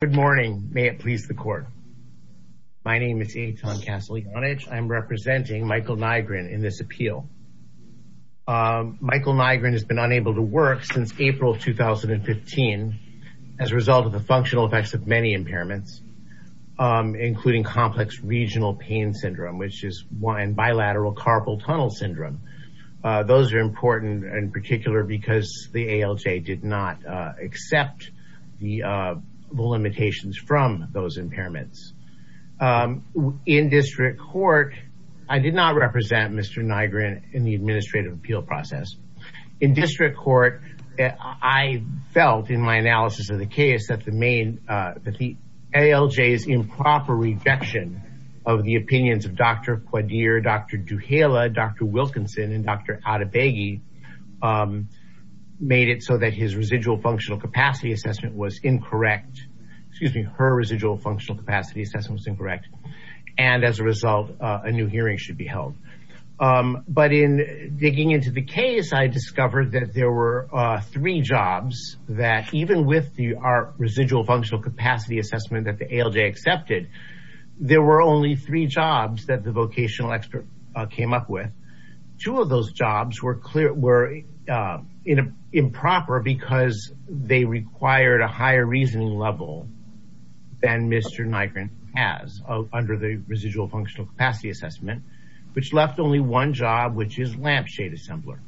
Good morning. May it please the court. My name is Eitan Castellanich. I'm representing Michael Nygren in this appeal. Michael Nygren has been unable to work since April 2015 as a result of the functional effects of many impairments, including complex regional pain syndrome and bilateral carpal tunnel syndrome. Those are important in particular because the ALJ did not accept the limitations from those impairments. In district court, I did not represent Mr. Nygren in the administrative appeal process. In district court, I felt in my analysis of the case that the ALJ's improper rejection of the opinions of Dr. Kottabegi made it so that his residual functional capacity assessment was incorrect. And as a result, a new hearing should be held. But in digging into the case, I discovered that there were three jobs that even with the residual functional capacity assessment that the ALJ accepted, there were only three jobs that the vocational expert came up with. Two of those jobs were improper because they required a higher reasoning level than Mr. Nygren has under the residual functional capacity assessment, which left only one job, which is lampshade assembler.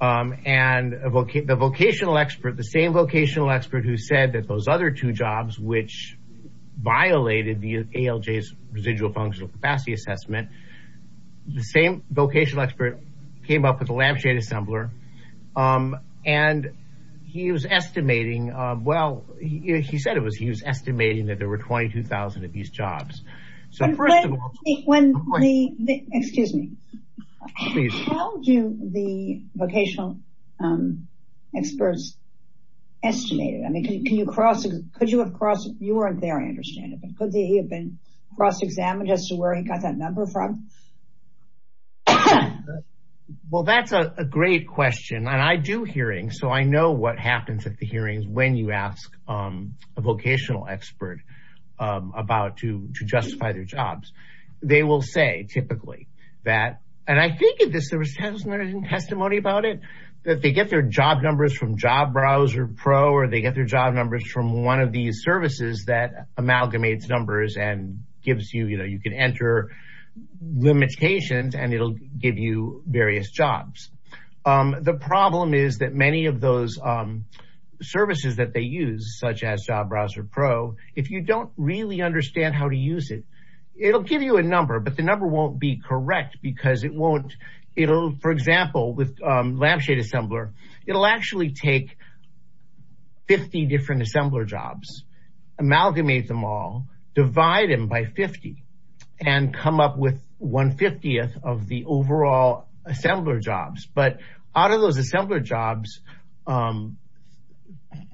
And the vocational expert, the same vocational expert who said that those other two jobs violated the ALJ's residual functional capacity assessment, the same vocational expert came up with the lampshade assembler. And he was estimating, well, he said he was estimating that there were 22,000 of these jobs. Excuse me. How do the vocational experts estimate it? I mean, could you have crossed, you weren't there I understand it, but could he have been cross examined as to where he got that number from? Well, that's a great question. And I do hearings, so I know what happens at the hearings when you ask a vocational expert about to justify their jobs. They will say typically that, and I think of this, there was testimony about it, that they get their job numbers from Job Browser Pro, or they get their job numbers from one of these services that amalgamates numbers and gives you, you know, you can enter limitations and it'll give you various jobs. The problem is that many of those services that they use, such as Job Browser Pro, if you don't really understand how to use it, it'll give you a number, but the number won't be correct because it won't, it'll, for example, with lampshade assembler, it'll actually take 50 different assembler jobs, amalgamate them all, divide them by 50, and come up with 1 50th of the overall assembler jobs. But out of those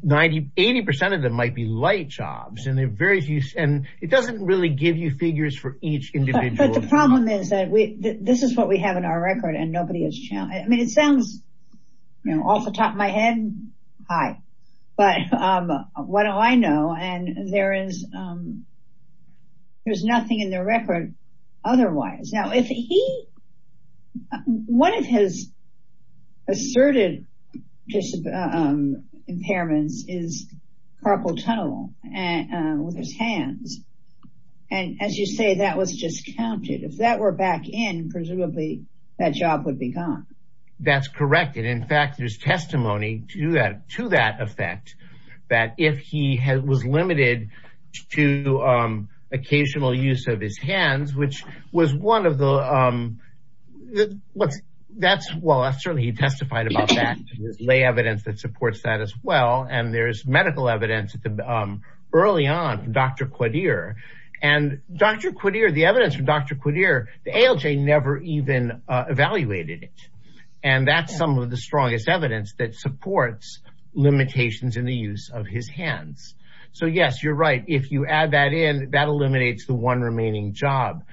90, 80% of them might be light jobs, and they're very few, and it doesn't really give you figures for each individual. But the problem is that we, this is what we have in our record, and nobody has challenged, I mean, it sounds, you know, off the top of my head, hi, but what do I know? And there is, there's nothing in the record, otherwise. Now, if he, one of his asserted impairments is carpal tunnel, and with his hands. And as you say, that was just counted. If that were back in, presumably, that job would be gone. That's correct. And in fact, there's testimony to that effect, that if he was limited to occasional use of his hands, which was one of the, what's, that's, well, that's certainly, he testified about that. There's lay evidence that supports that as well. And there's medical evidence at the, early on, Dr. Quadir. And Dr. Quadir, the evidence from Dr. Quadir, the ALJ never even evaluated it. And that's some of the strongest evidence that supports limitations in the use of his hands. So yes, you're right, if you add that in, that eliminates the one remaining job.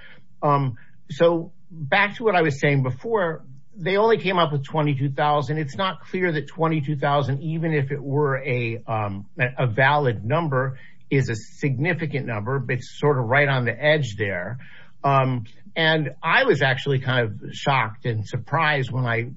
So back to what I was saying before, they only came up with 22,000. It's not clear that 22,000, even if it were a valid number, is a significant number, but it's sort of right on the edge there. And I was actually kind of shocked and surprised when I,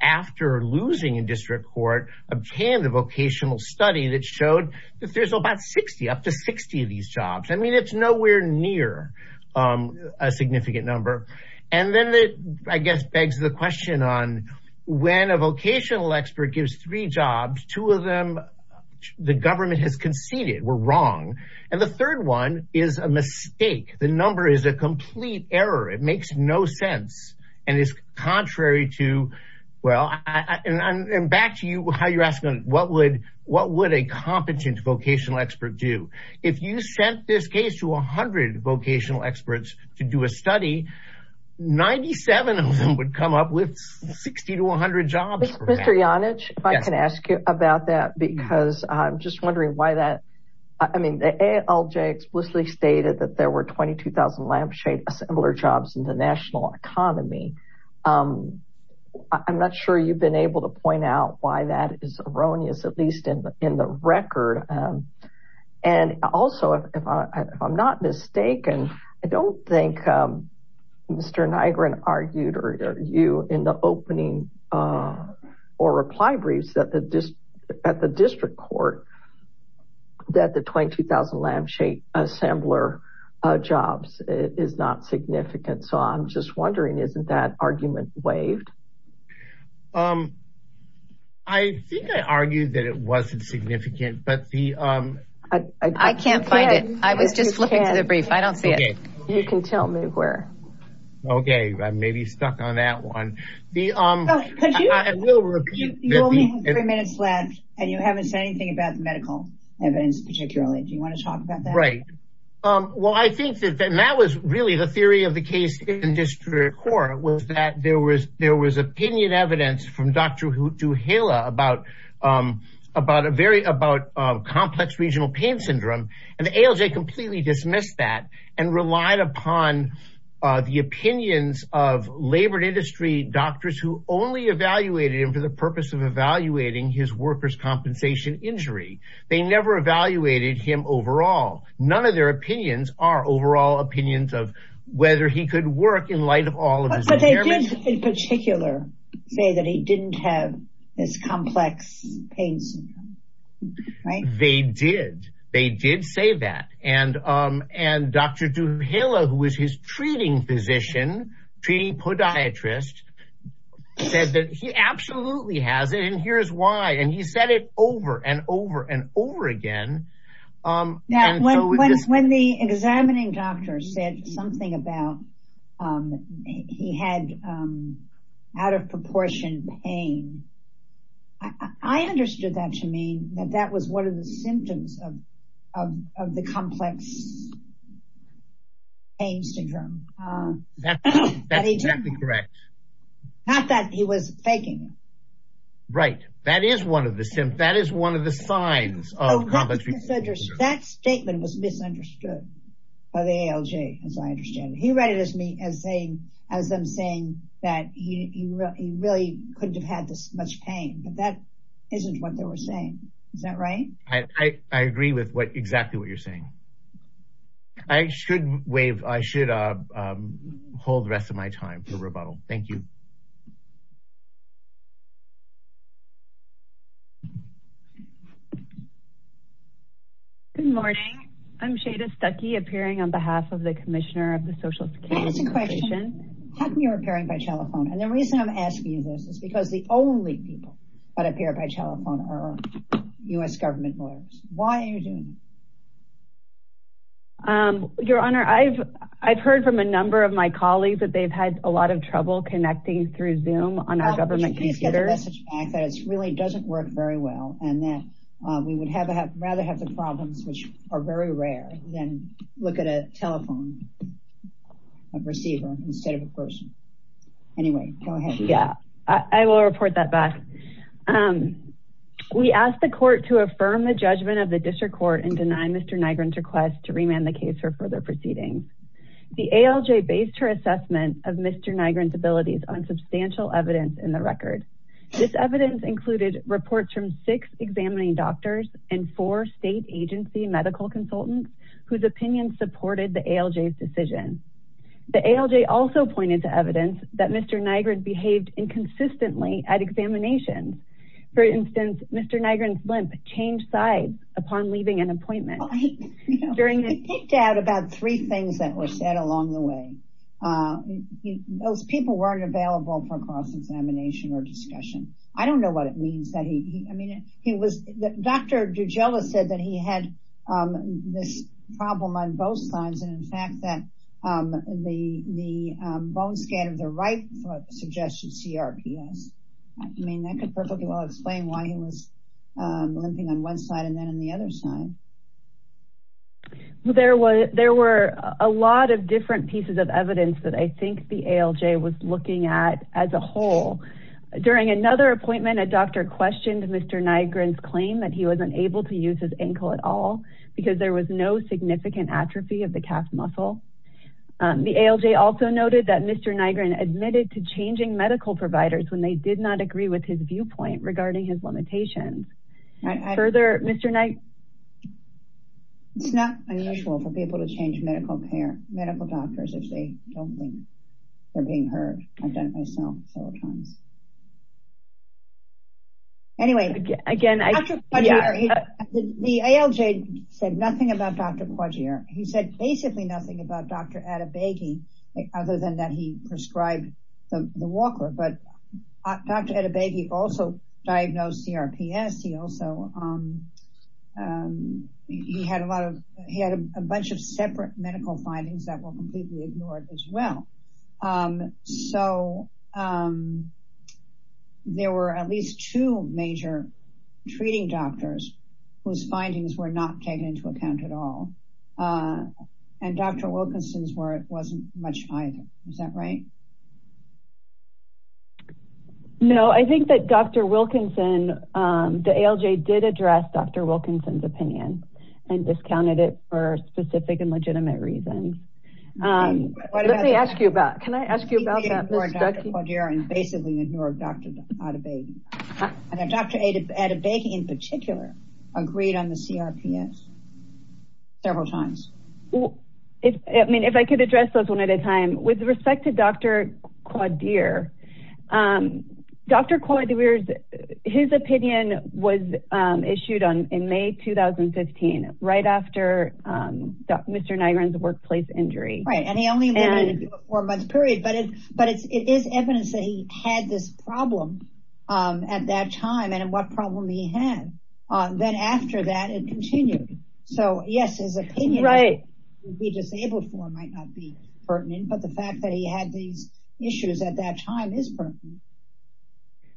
after losing in district court, obtained a vocational study that showed that there's about 60, up to 60 of these jobs. I mean, it's nowhere near a significant number. And then it, I guess, begs the question on when a vocational expert gives three jobs, two of them the government has conceded were wrong. And the third one is a mistake. The number is a complete error. It makes no sense. And it's contrary to, well, and back to you, how you're asking, what would, what would a competent vocational expert do? If you sent this case to 100 vocational experts to do a study, 97 of them would come up with 60 to 100 jobs. Mr. Yonage, if I can ask you about that, because I'm just wondering why that, I mean, the ALJ explicitly stated that there were 22,000 lampshade assembler jobs in the national economy. I'm not sure you've been able to point out why that is erroneous, at least in the record. And also, if I'm not mistaken, I don't think Mr. Nygren argued or you in the opening or reply briefs at the district court that the 22,000 lampshade assembler jobs is not significant. So I'm just wondering, isn't that argument waived? I think I argued that it wasn't significant, but the... I can't find it. I was just flipping through the brief. I don't see it. You can tell me where. Okay. I may be stuck on that one. You only have three minutes left and you haven't said anything about the medical evidence particularly. Do you want to talk about that? Right. Well, I think that that was really the theory of the case in district court was that there was opinion evidence from Dr. Duhala about complex regional pain syndrome. And the ALJ completely dismissed that and relied upon the opinions of labored industry doctors who only evaluated him for the purpose of evaluating his workers' compensation injury. They never evaluated him overall. None of their opinions are overall opinions of whether he could work in light of all of his impairments. But they did in particular say that he didn't have this complex pain syndrome, right? They did. They did say that. And Dr. Duhala, who was his treating physician, treating podiatrist, said that he absolutely has it and here's why. And he said it over and over and over again. When the examining doctor said something about he had out of proportion pain, I understood that to mean that that was one of the symptoms of the complex pain syndrome. That's exactly correct. Not that he was faking it. Right. That is one of the symptoms. That is one of the signs of complex pain syndrome. That statement was misunderstood by the ALJ, as I understand it. He read it as them saying that he really couldn't have had this much pain. But that isn't what they were saying. Is that right? I agree with exactly what you're saying. I should hold the rest of my time for rebuttal. Thank you. Good morning. I'm Shada Stuckey appearing on behalf of the Commissioner of the Social Protection. I have a question. How come you're appearing by telephone? And the reason I'm asking you this is because the only people that appear by telephone are U.S. government lawyers. Why are you doing this? Your Honor, I've heard from a number of my colleagues that they've had a lot of trouble connecting through Zoom on our government computers. It really doesn't work very well. And we would rather have the problems, which are very rare, than look at a telephone. A receiver instead of a person. Anyway, go ahead. Yeah, I will report that back. We asked the court to affirm the judgment of the district court and deny Mr. Nygren's request to remand the case for further proceedings. The ALJ based her assessment of Mr. Nygren's abilities on substantial evidence in the record. This evidence included reports from six examining doctors and four state agency medical consultants whose opinions supported the ALJ's decision. The ALJ also pointed to evidence that Mr. Nygren behaved inconsistently at examinations. For instance, Mr. Nygren's limp changed sides upon leaving an appointment. Well, he picked out about three things that were said along the way. Those people weren't available for cross-examination or discussion. I don't know what it means that he, I mean, Dr. Dujela said that he had this problem on both sides and in fact that the bone scan of the right suggested CRPS. I mean, that could perfectly well explain why he was limping on one side and then on the other side. There were a lot of different pieces of evidence that I think the ALJ was looking at as a whole. During another appointment, a doctor questioned Mr. Nygren's claim that he wasn't able to use his ankle at all because there was no significant atrophy of the calf muscle. The ALJ also noted that Mr. Nygren admitted to changing medical providers when they did not agree with his viewpoint regarding his limitations. Further, Mr. Nygren. It's not unusual for people to change medical doctors if they don't think they're being heard. I've done it myself several times. Anyway, again, the ALJ said nothing about Dr. Quadrier. He said basically nothing about Dr. Adebaigi other than that he prescribed the walker, but Dr. Adebaigi also diagnosed CRPS. He also had a lot of, he had a bunch of separate medical findings that were completely ignored as well. So there were at least two major treating doctors whose findings were not taken into account at all. And Dr. Wilkinson's wasn't much either. Is that right? No, I think that Dr. Wilkinson, the ALJ did address Dr. Wilkinson's opinion and discounted it for specific and legitimate reasons. Let me ask you about, can I ask you about that? Basically ignore Dr. Adebaigi. And Dr. Adebaigi in particular agreed on the CRPS several times. I mean, if I could address those one at a time with respect to Dr. Quadrier. Dr. Quadrier, his opinion was issued on in May, 2015, right after Mr. Nygren's workplace injury. Right. And he only had a four month period, but it is evidence that he had this problem at that time and what problem he had. Then after that it continued. So yes, his opinion would be disabled for might not be pertinent, but the fact that he had these issues at that time is pertinent.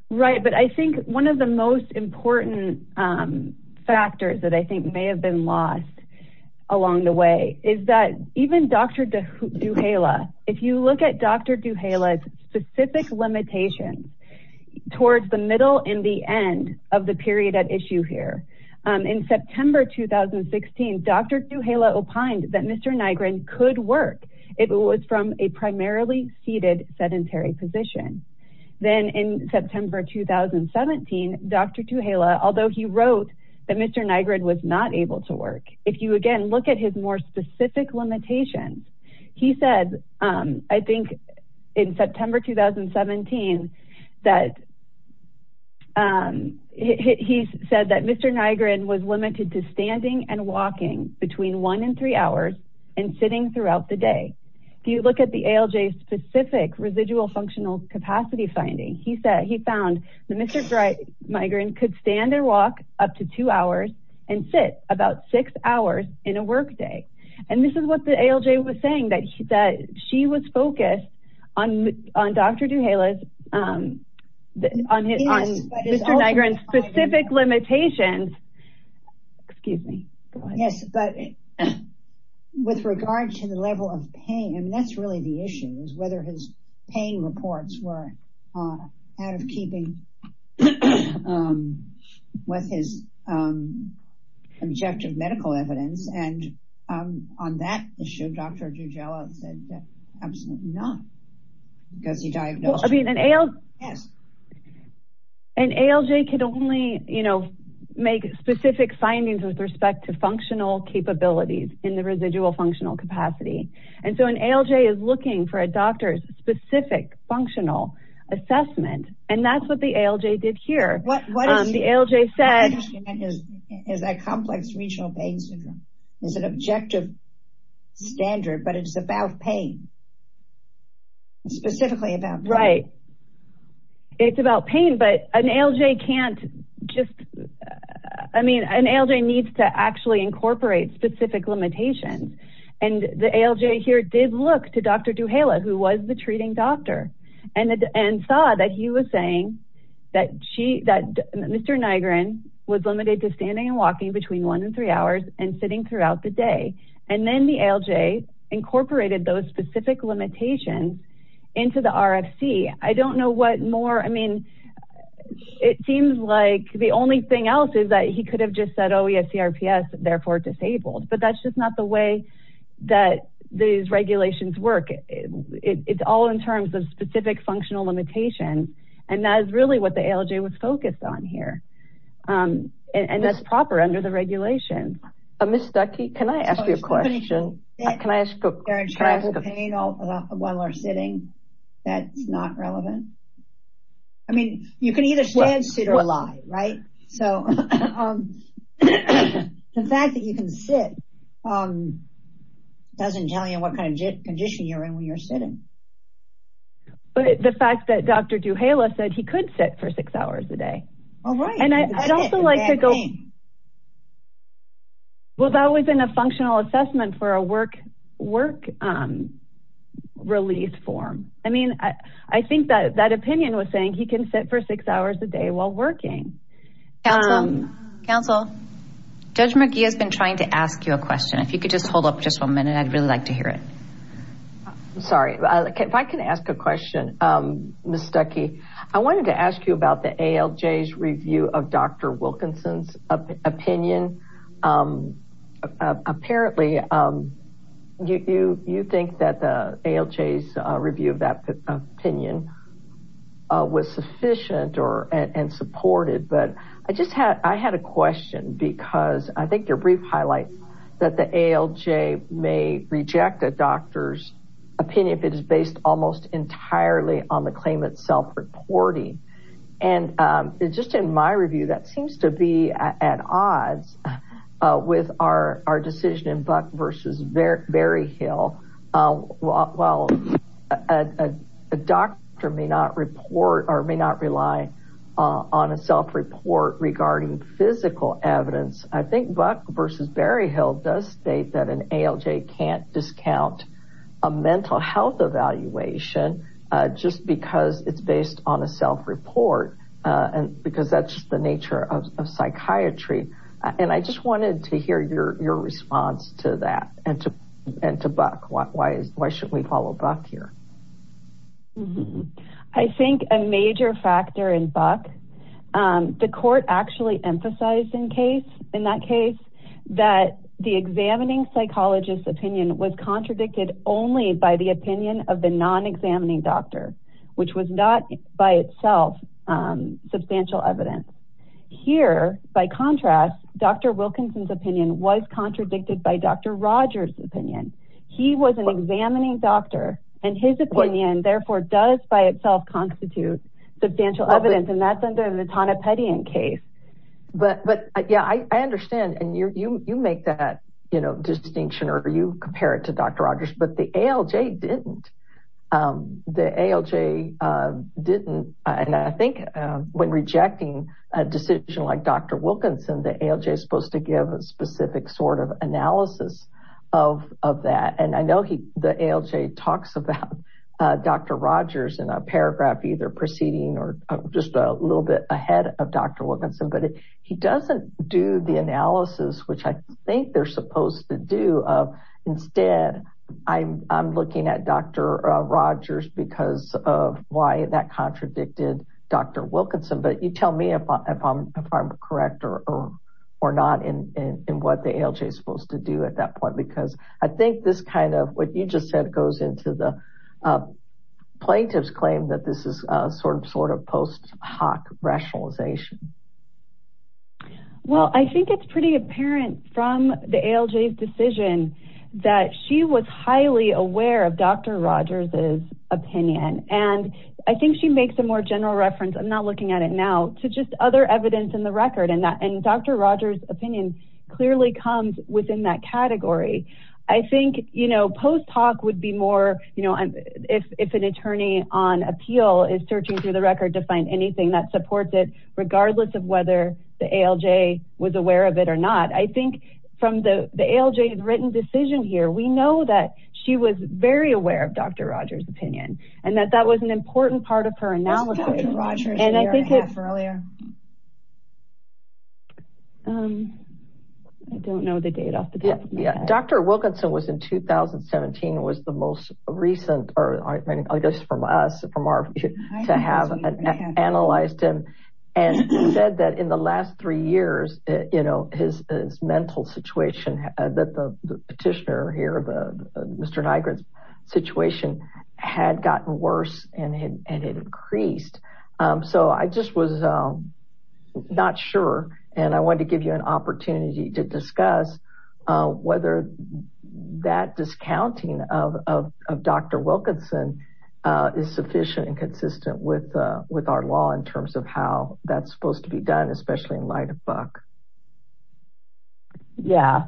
Right. But I think one of the most important factors that I think may have been lost along the way is that even Dr. Duhala, if you look at Dr. Duhala's specific limitations towards the middle and the end of the period at issue here in September 2016, Dr. Duhala opined that Mr. Nygren could work. It was from a primarily seated sedentary position. Then in September, 2017, Dr. Duhala, although he wrote that Mr. Nygren was not able to work. If you again, look at his more specific limitations, he said, I think in September, 2017, that he said that Mr. Nygren was limited to standing and walking between one and three hours and sitting throughout the day. If you look at the ALJ specific residual functional capacity finding, he said he found the Mr. Nygren could stand and walk up to two hours and sit about six hours in a work day. And this is what the ALJ was saying that she was focused on Dr. Duhala's on Mr. Nygren's specific limitations. Excuse me. Yes, but with regard to the level of pain, I mean, that's really the issue is whether his pain reports were out of keeping with his objective medical evidence. And on that issue, Dr. Duhala said that absolutely not because he diagnosed. I mean, an ALJ can only, you know, make specific findings with respect to functional capabilities in the residual functional capacity. And so an ALJ is looking for a doctor's specific functional assessment. And that's what the ALJ did here. The ALJ said is a complex regional pain syndrome is an objective standard, but it's about pain. Specifically about pain. Right. It's about pain, but an ALJ can't just, I mean, an ALJ needs to actually incorporate specific limitations. And the ALJ here did look to Dr. Duhala, who was the treating doctor and saw that he was saying that Mr. Nygren was limited to standing and walking between one and three hours and sitting throughout the day. And then the ALJ incorporated those specific limitations into the RFC. I don't know what more, I mean, it seems like the only thing else is that he could have just said, oh, we have CRPS therefore disabled, but that's just not the way that these regulations work. It's all in terms of specific functional limitation. And that is really what the ALJ was focused on here. And that's proper under the regulation. Ms. Stuckey, can I ask you a question? Can I ask a question? There are times of pain while we're sitting that's not relevant. I mean, you can either stand, sit, or lie, right? So the fact that you can sit doesn't tell you what kind of condition you're in when you're sitting. But the fact that Dr. Duhala said he could sit for six hours a day. Oh, right. And I'd also like to go, well, that was in a functional assessment for a work release form. I mean, I think that opinion was saying he can sit for six hours a day while working. Counsel, Judge McGee has been trying to ask you a question, if you could just hold up just one minute, I'd really like to hear it. I'm sorry, if I can ask a question, Ms. Stuckey, I wanted to ask you about the ALJ's review of Dr. Wilkinson's opinion. Apparently, you think that the ALJ's review of that opinion was sufficient and supported, but I just had, I had a question because I think your brief highlights that the ALJ may reject a doctor's opinion if it is based almost entirely on the claim itself reporting. And just in my review, that seems to be at odds with our decision in Buck versus Berryhill. While a doctor may not report or may not rely on a self-report regarding physical evidence, I think Buck versus Berryhill does state that an ALJ can't discount a mental health evaluation just because it's based on a self-report and because that's the nature of psychiatry. And I just wanted to hear your response to that and to Buck, why should we follow Buck here? Mm-hmm. I think a major factor in Buck, the court actually emphasized in case, in that case, that the examining psychologist's opinion was contradicted only by the opinion of the non-examining doctor, which was not by itself substantial evidence. Here, by contrast, Dr. Wilkinson's opinion was contradicted by Dr. Rogers' opinion. He was an examining doctor and his opinion, therefore, does by itself constitute substantial evidence. And that's under the Vitonipedian case. But yeah, I understand. And you make that distinction or you compare it to Dr. Rogers, but the ALJ didn't. The ALJ didn't. And I think when rejecting a decision like Dr. Wilkinson, the ALJ is supposed to give a specific sort of analysis of that. And I know the ALJ talks about Dr. Rogers in a paragraph either preceding or just a little bit ahead of Dr. Wilkinson, but he doesn't do the analysis, which I think they're supposed to do. Instead, I'm looking at Dr. Rogers because of why that contradicted Dr. Wilkinson. But you tell me if I'm correct or not in what the ALJ is supposed to do at that point, because I think this what you just said goes into the plaintiff's claim that this is sort of post hoc rationalization. Well, I think it's pretty apparent from the ALJ's decision that she was highly aware of Dr. Rogers' opinion. And I think she makes a more general reference, I'm not looking at it now, to just other evidence in the record. And Dr. Rogers' opinion clearly comes within that category. I think post hoc would be more, if an attorney on appeal is searching through the record to find anything that supports it, regardless of whether the ALJ was aware of it or not. I think from the ALJ's written decision here, we know that she was very aware of Dr. Rogers' opinion and that that was an important part of her analysis. I don't know the date off the top of my head. Dr. Wilkinson was in 2017, was the most recent, I guess from us, to have analyzed him and said that in the last three years, his mental situation that the petitioner here, Mr. Nygren's situation had gotten worse and had increased. So I just was not sure. And I wanted to give you an that discounting of Dr. Wilkinson is sufficient and consistent with our law in terms of how that's supposed to be done, especially in light of Buck. Yeah.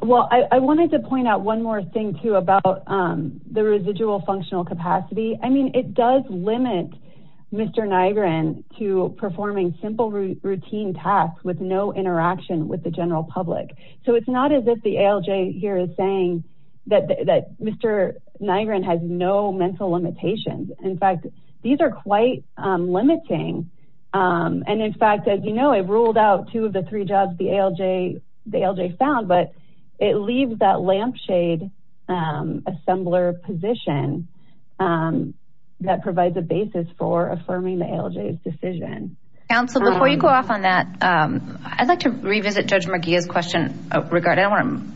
Well, I wanted to point out one more thing too about the residual functional capacity. I mean, it does limit Mr. Nygren to performing simple routine tasks with no interaction with the ALJ. I mean, the ALJ here is saying that Mr. Nygren has no mental limitations. In fact, these are quite limiting. And in fact, as you know, it ruled out two of the three jobs the ALJ found, but it leaves that lampshade assembler position that provides a basis for affirming the ALJ's decision. Counsel, before you go off on that, I'd like to revisit Judge McGeeh's question. I don't want to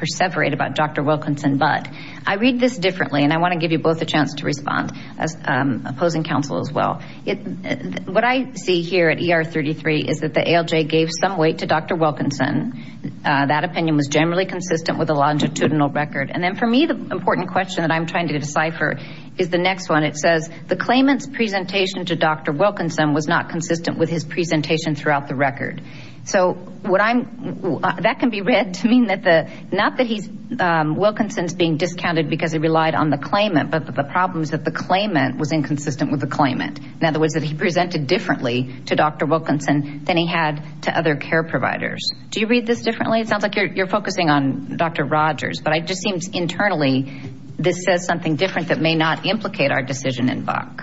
perseverate about Dr. Wilkinson, but I read this differently and I want to give you both a chance to respond as opposing counsel as well. What I see here at ER33 is that the ALJ gave some weight to Dr. Wilkinson. That opinion was generally consistent with a longitudinal record. And then for me, the important question that I'm trying to decipher is the next one. It says the claimant's presentation to Dr. Wilkinson was not consistent with his presentation throughout the record. So what I'm, that can be read to mean that the, not that he's, Wilkinson's being discounted because he relied on the claimant, but the problem is that the claimant was inconsistent with the claimant. In other words, that he presented differently to Dr. Wilkinson than he had to other care providers. Do you read this differently? It sounds like you're focusing on Dr. Rogers, but it just seems internally this says something different that may not implicate our decision in Buck.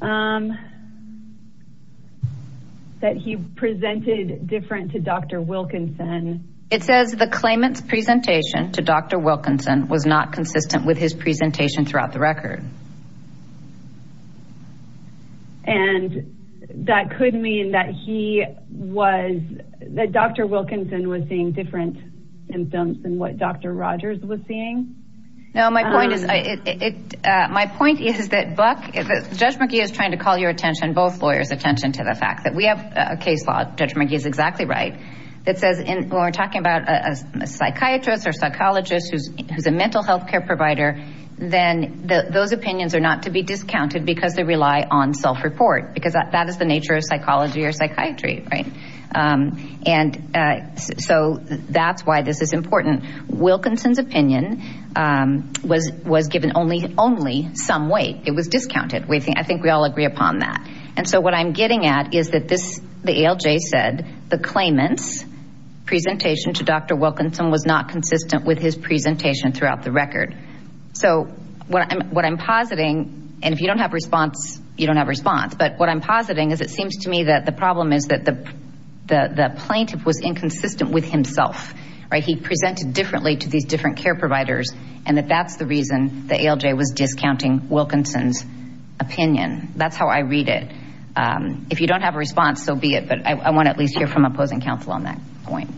That he presented different to Dr. Wilkinson. It says the claimant's presentation to Dr. Wilkinson was not consistent with his presentation throughout the record. And that could mean that he was, that Dr. Wilkinson was seeing different symptoms than what Dr. Rogers was seeing. No, my point is, my point is that Buck, Judge McGee is trying to call your attention, both lawyers' attention to the fact that we have a case law, Judge McGee is exactly right, that says when we're talking about a psychiatrist or psychologist who's a mental health care provider, then those opinions are not to be discounted because they rely on self-report because that is the nature of psychology or psychiatry, right? And so that's why this is important. Wilkinson's opinion was given only some weight. It was discounted. I think we all agree upon that. And so what I'm getting at is that this, the ALJ said the claimant's Dr. Wilkinson was not consistent with his presentation throughout the record. So what I'm, what I'm positing, and if you don't have response, you don't have response, but what I'm positing is it seems to me that the problem is that the plaintiff was inconsistent with himself, right? He presented differently to these different care providers and that that's the reason the ALJ was discounting Wilkinson's opinion. That's how I read it. If you don't have a response, so be it, but I want to at least hear from opposing counsel on that point.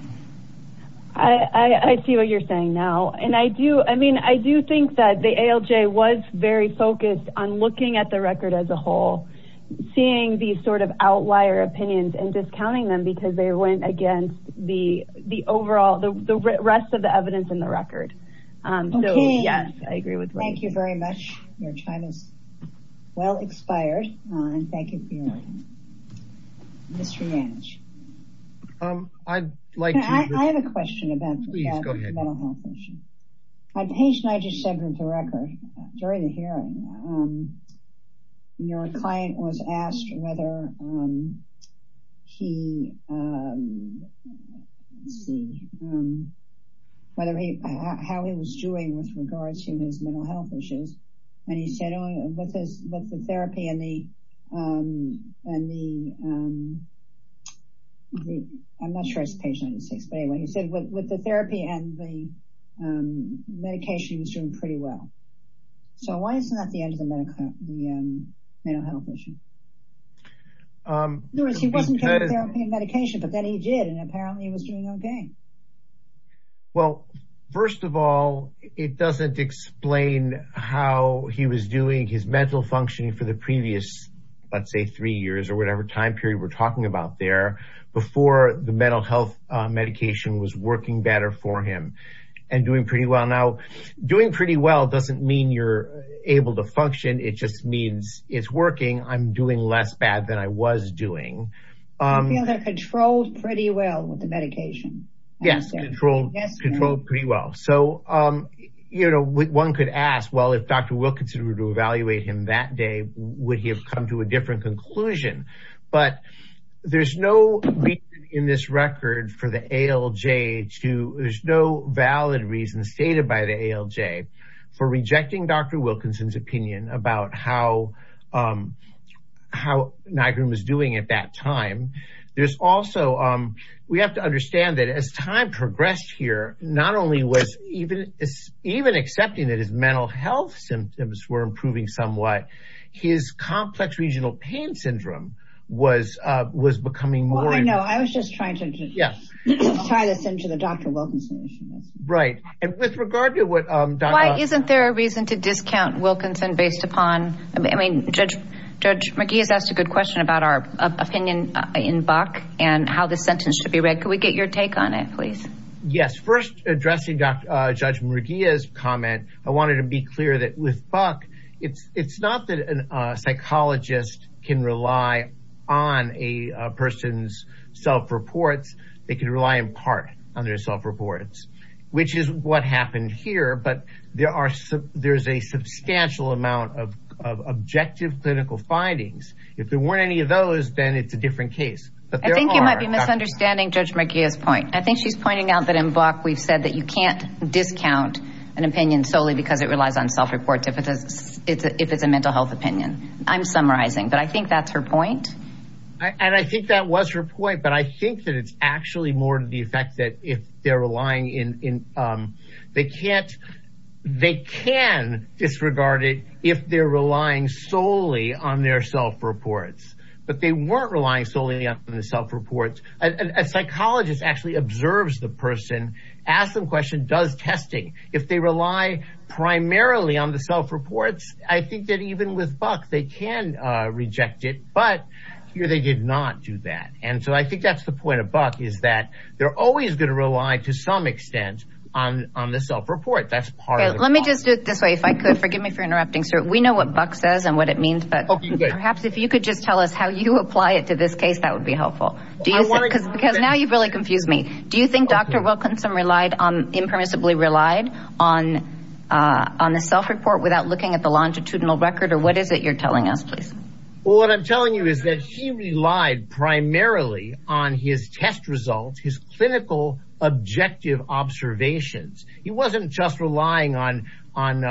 I see what you're saying now. And I do, I mean, I do think that the ALJ was very focused on looking at the record as a whole, seeing these sort of outlier opinions and discounting them because they went against the, the overall, the rest of the evidence in the record. So yes, I agree with that. Thank you very much. Your time is well expired. And thank you for your time. Mr. Yanch. I'd like to, I have a question about the mental health issue. A patient I just sent into record during the hearing, your client was asked whether he, let's see, whether he, how he was doing with regards to his mental health issues. And he said with the therapy and the, I'm not sure it's page 96, but anyway, he said with the therapy and the medication, he was doing pretty well. So why isn't that the end of the medical, the mental health issue? He wasn't getting therapy and medication, but then he did. And he was doing his mental functioning for the previous, let's say three years or whatever time period we're talking about there before the mental health medication was working better for him and doing pretty well now doing pretty well. It doesn't mean you're able to function. It just means it's working. I'm doing less bad than I was doing. I feel they're controlled pretty well with Dr. Wilkinson to evaluate him that day, would he have come to a different conclusion, but there's no reason in this record for the ALJ to, there's no valid reason stated by the ALJ for rejecting Dr. Wilkinson's opinion about how, how NIGRM was doing at that time. There's also, we have to were improving somewhat. His complex regional pain syndrome was, was becoming more. I know. I was just trying to tie this into the Dr. Wilkinson issue. Right. And with regard to what, isn't there a reason to discount Wilkinson based upon, I mean, judge, judge McGee has asked a good question about our opinion in Buck and how the sentence should be read. Could we get your take on it, please? Yes. First addressing judge McGee's comment. I wanted to be clear that with Buck, it's, it's not that a psychologist can rely on a person's self reports. They can rely in part on their self reports, which is what happened here. But there are, there's a substantial amount of, of objective clinical findings. If there weren't any of those, then it's a different case. I think you might be misunderstanding judge McGee's point. I think she's pointing out that in Buck, we've said that you can't discount an opinion solely because it relies on self reports. If it's a, if it's a mental health opinion, I'm summarizing, but I think that's her point. And I think that was her point, but I think that it's actually more to the effect that if they're relying in, in they can't, they can disregard it if they're relying solely on self reports. A psychologist actually observes the person, ask them questions, does testing. If they rely primarily on the self reports, I think that even with Buck, they can reject it, but here they did not do that. And so I think that's the point of Buck is that they're always going to rely to some extent on, on the self report. That's part of it. Let me just do it this way. If I could forgive me for interrupting, sir. We know what Buck says and what it means, perhaps if you could just tell us how you apply it to this case, that would be helpful. Because now you've really confused me. Do you think Dr. Wilkinson relied on, impermissibly relied on, on the self report without looking at the longitudinal record or what is it you're telling us, please? Well, what I'm telling you is that he relied primarily on his test results, his clinical objective observations. He wasn't just relying on, on,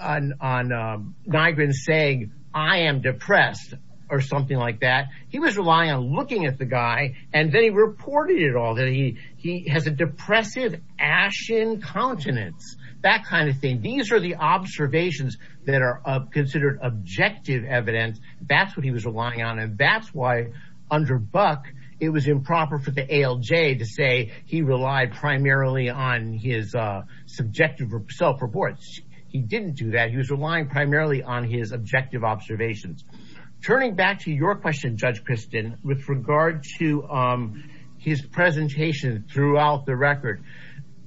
on, on Nygren saying, I am depressed or something like that. He was relying on looking at the guy and then he reported it all that he, he has a depressive ashen countenance, that kind of thing. These are the observations that are considered objective evidence. That's what he was relying on. And that's why under Buck, it was improper for the ALJ to say he relied primarily on his subjective self reports. He didn't do that. He was relying primarily on his objective observations. Turning back to your question, Judge Christin, with regard to his presentation throughout the record,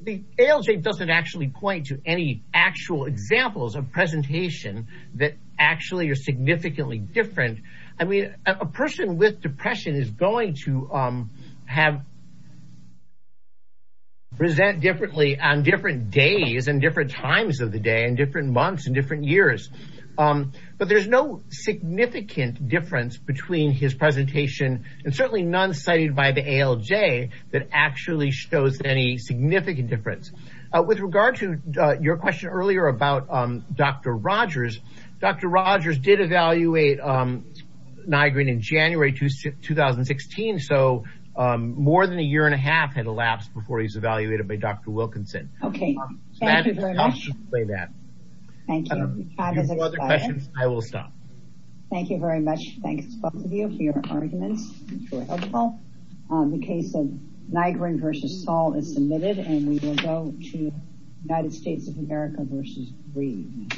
the ALJ doesn't actually point to any actual examples of presentation that actually are significantly different. I mean, a person with depression is going to have, present differently on different days and different times of the day and different months and different years. But there's no significant difference between his presentation and certainly none cited by the ALJ that actually shows any significant difference. With regard to your question earlier about Dr. Rogers, Dr. Rogers did evaluate Nygren in January 2016. So more than a year and a half had elapsed before he was evaluated by Dr. Wilkinson. Okay. Thank you very much. I will stop. Thank you very much. Thanks both of you for your arguments. The case of Nygren versus Saul is submitted and we will go to United States of America versus Reed.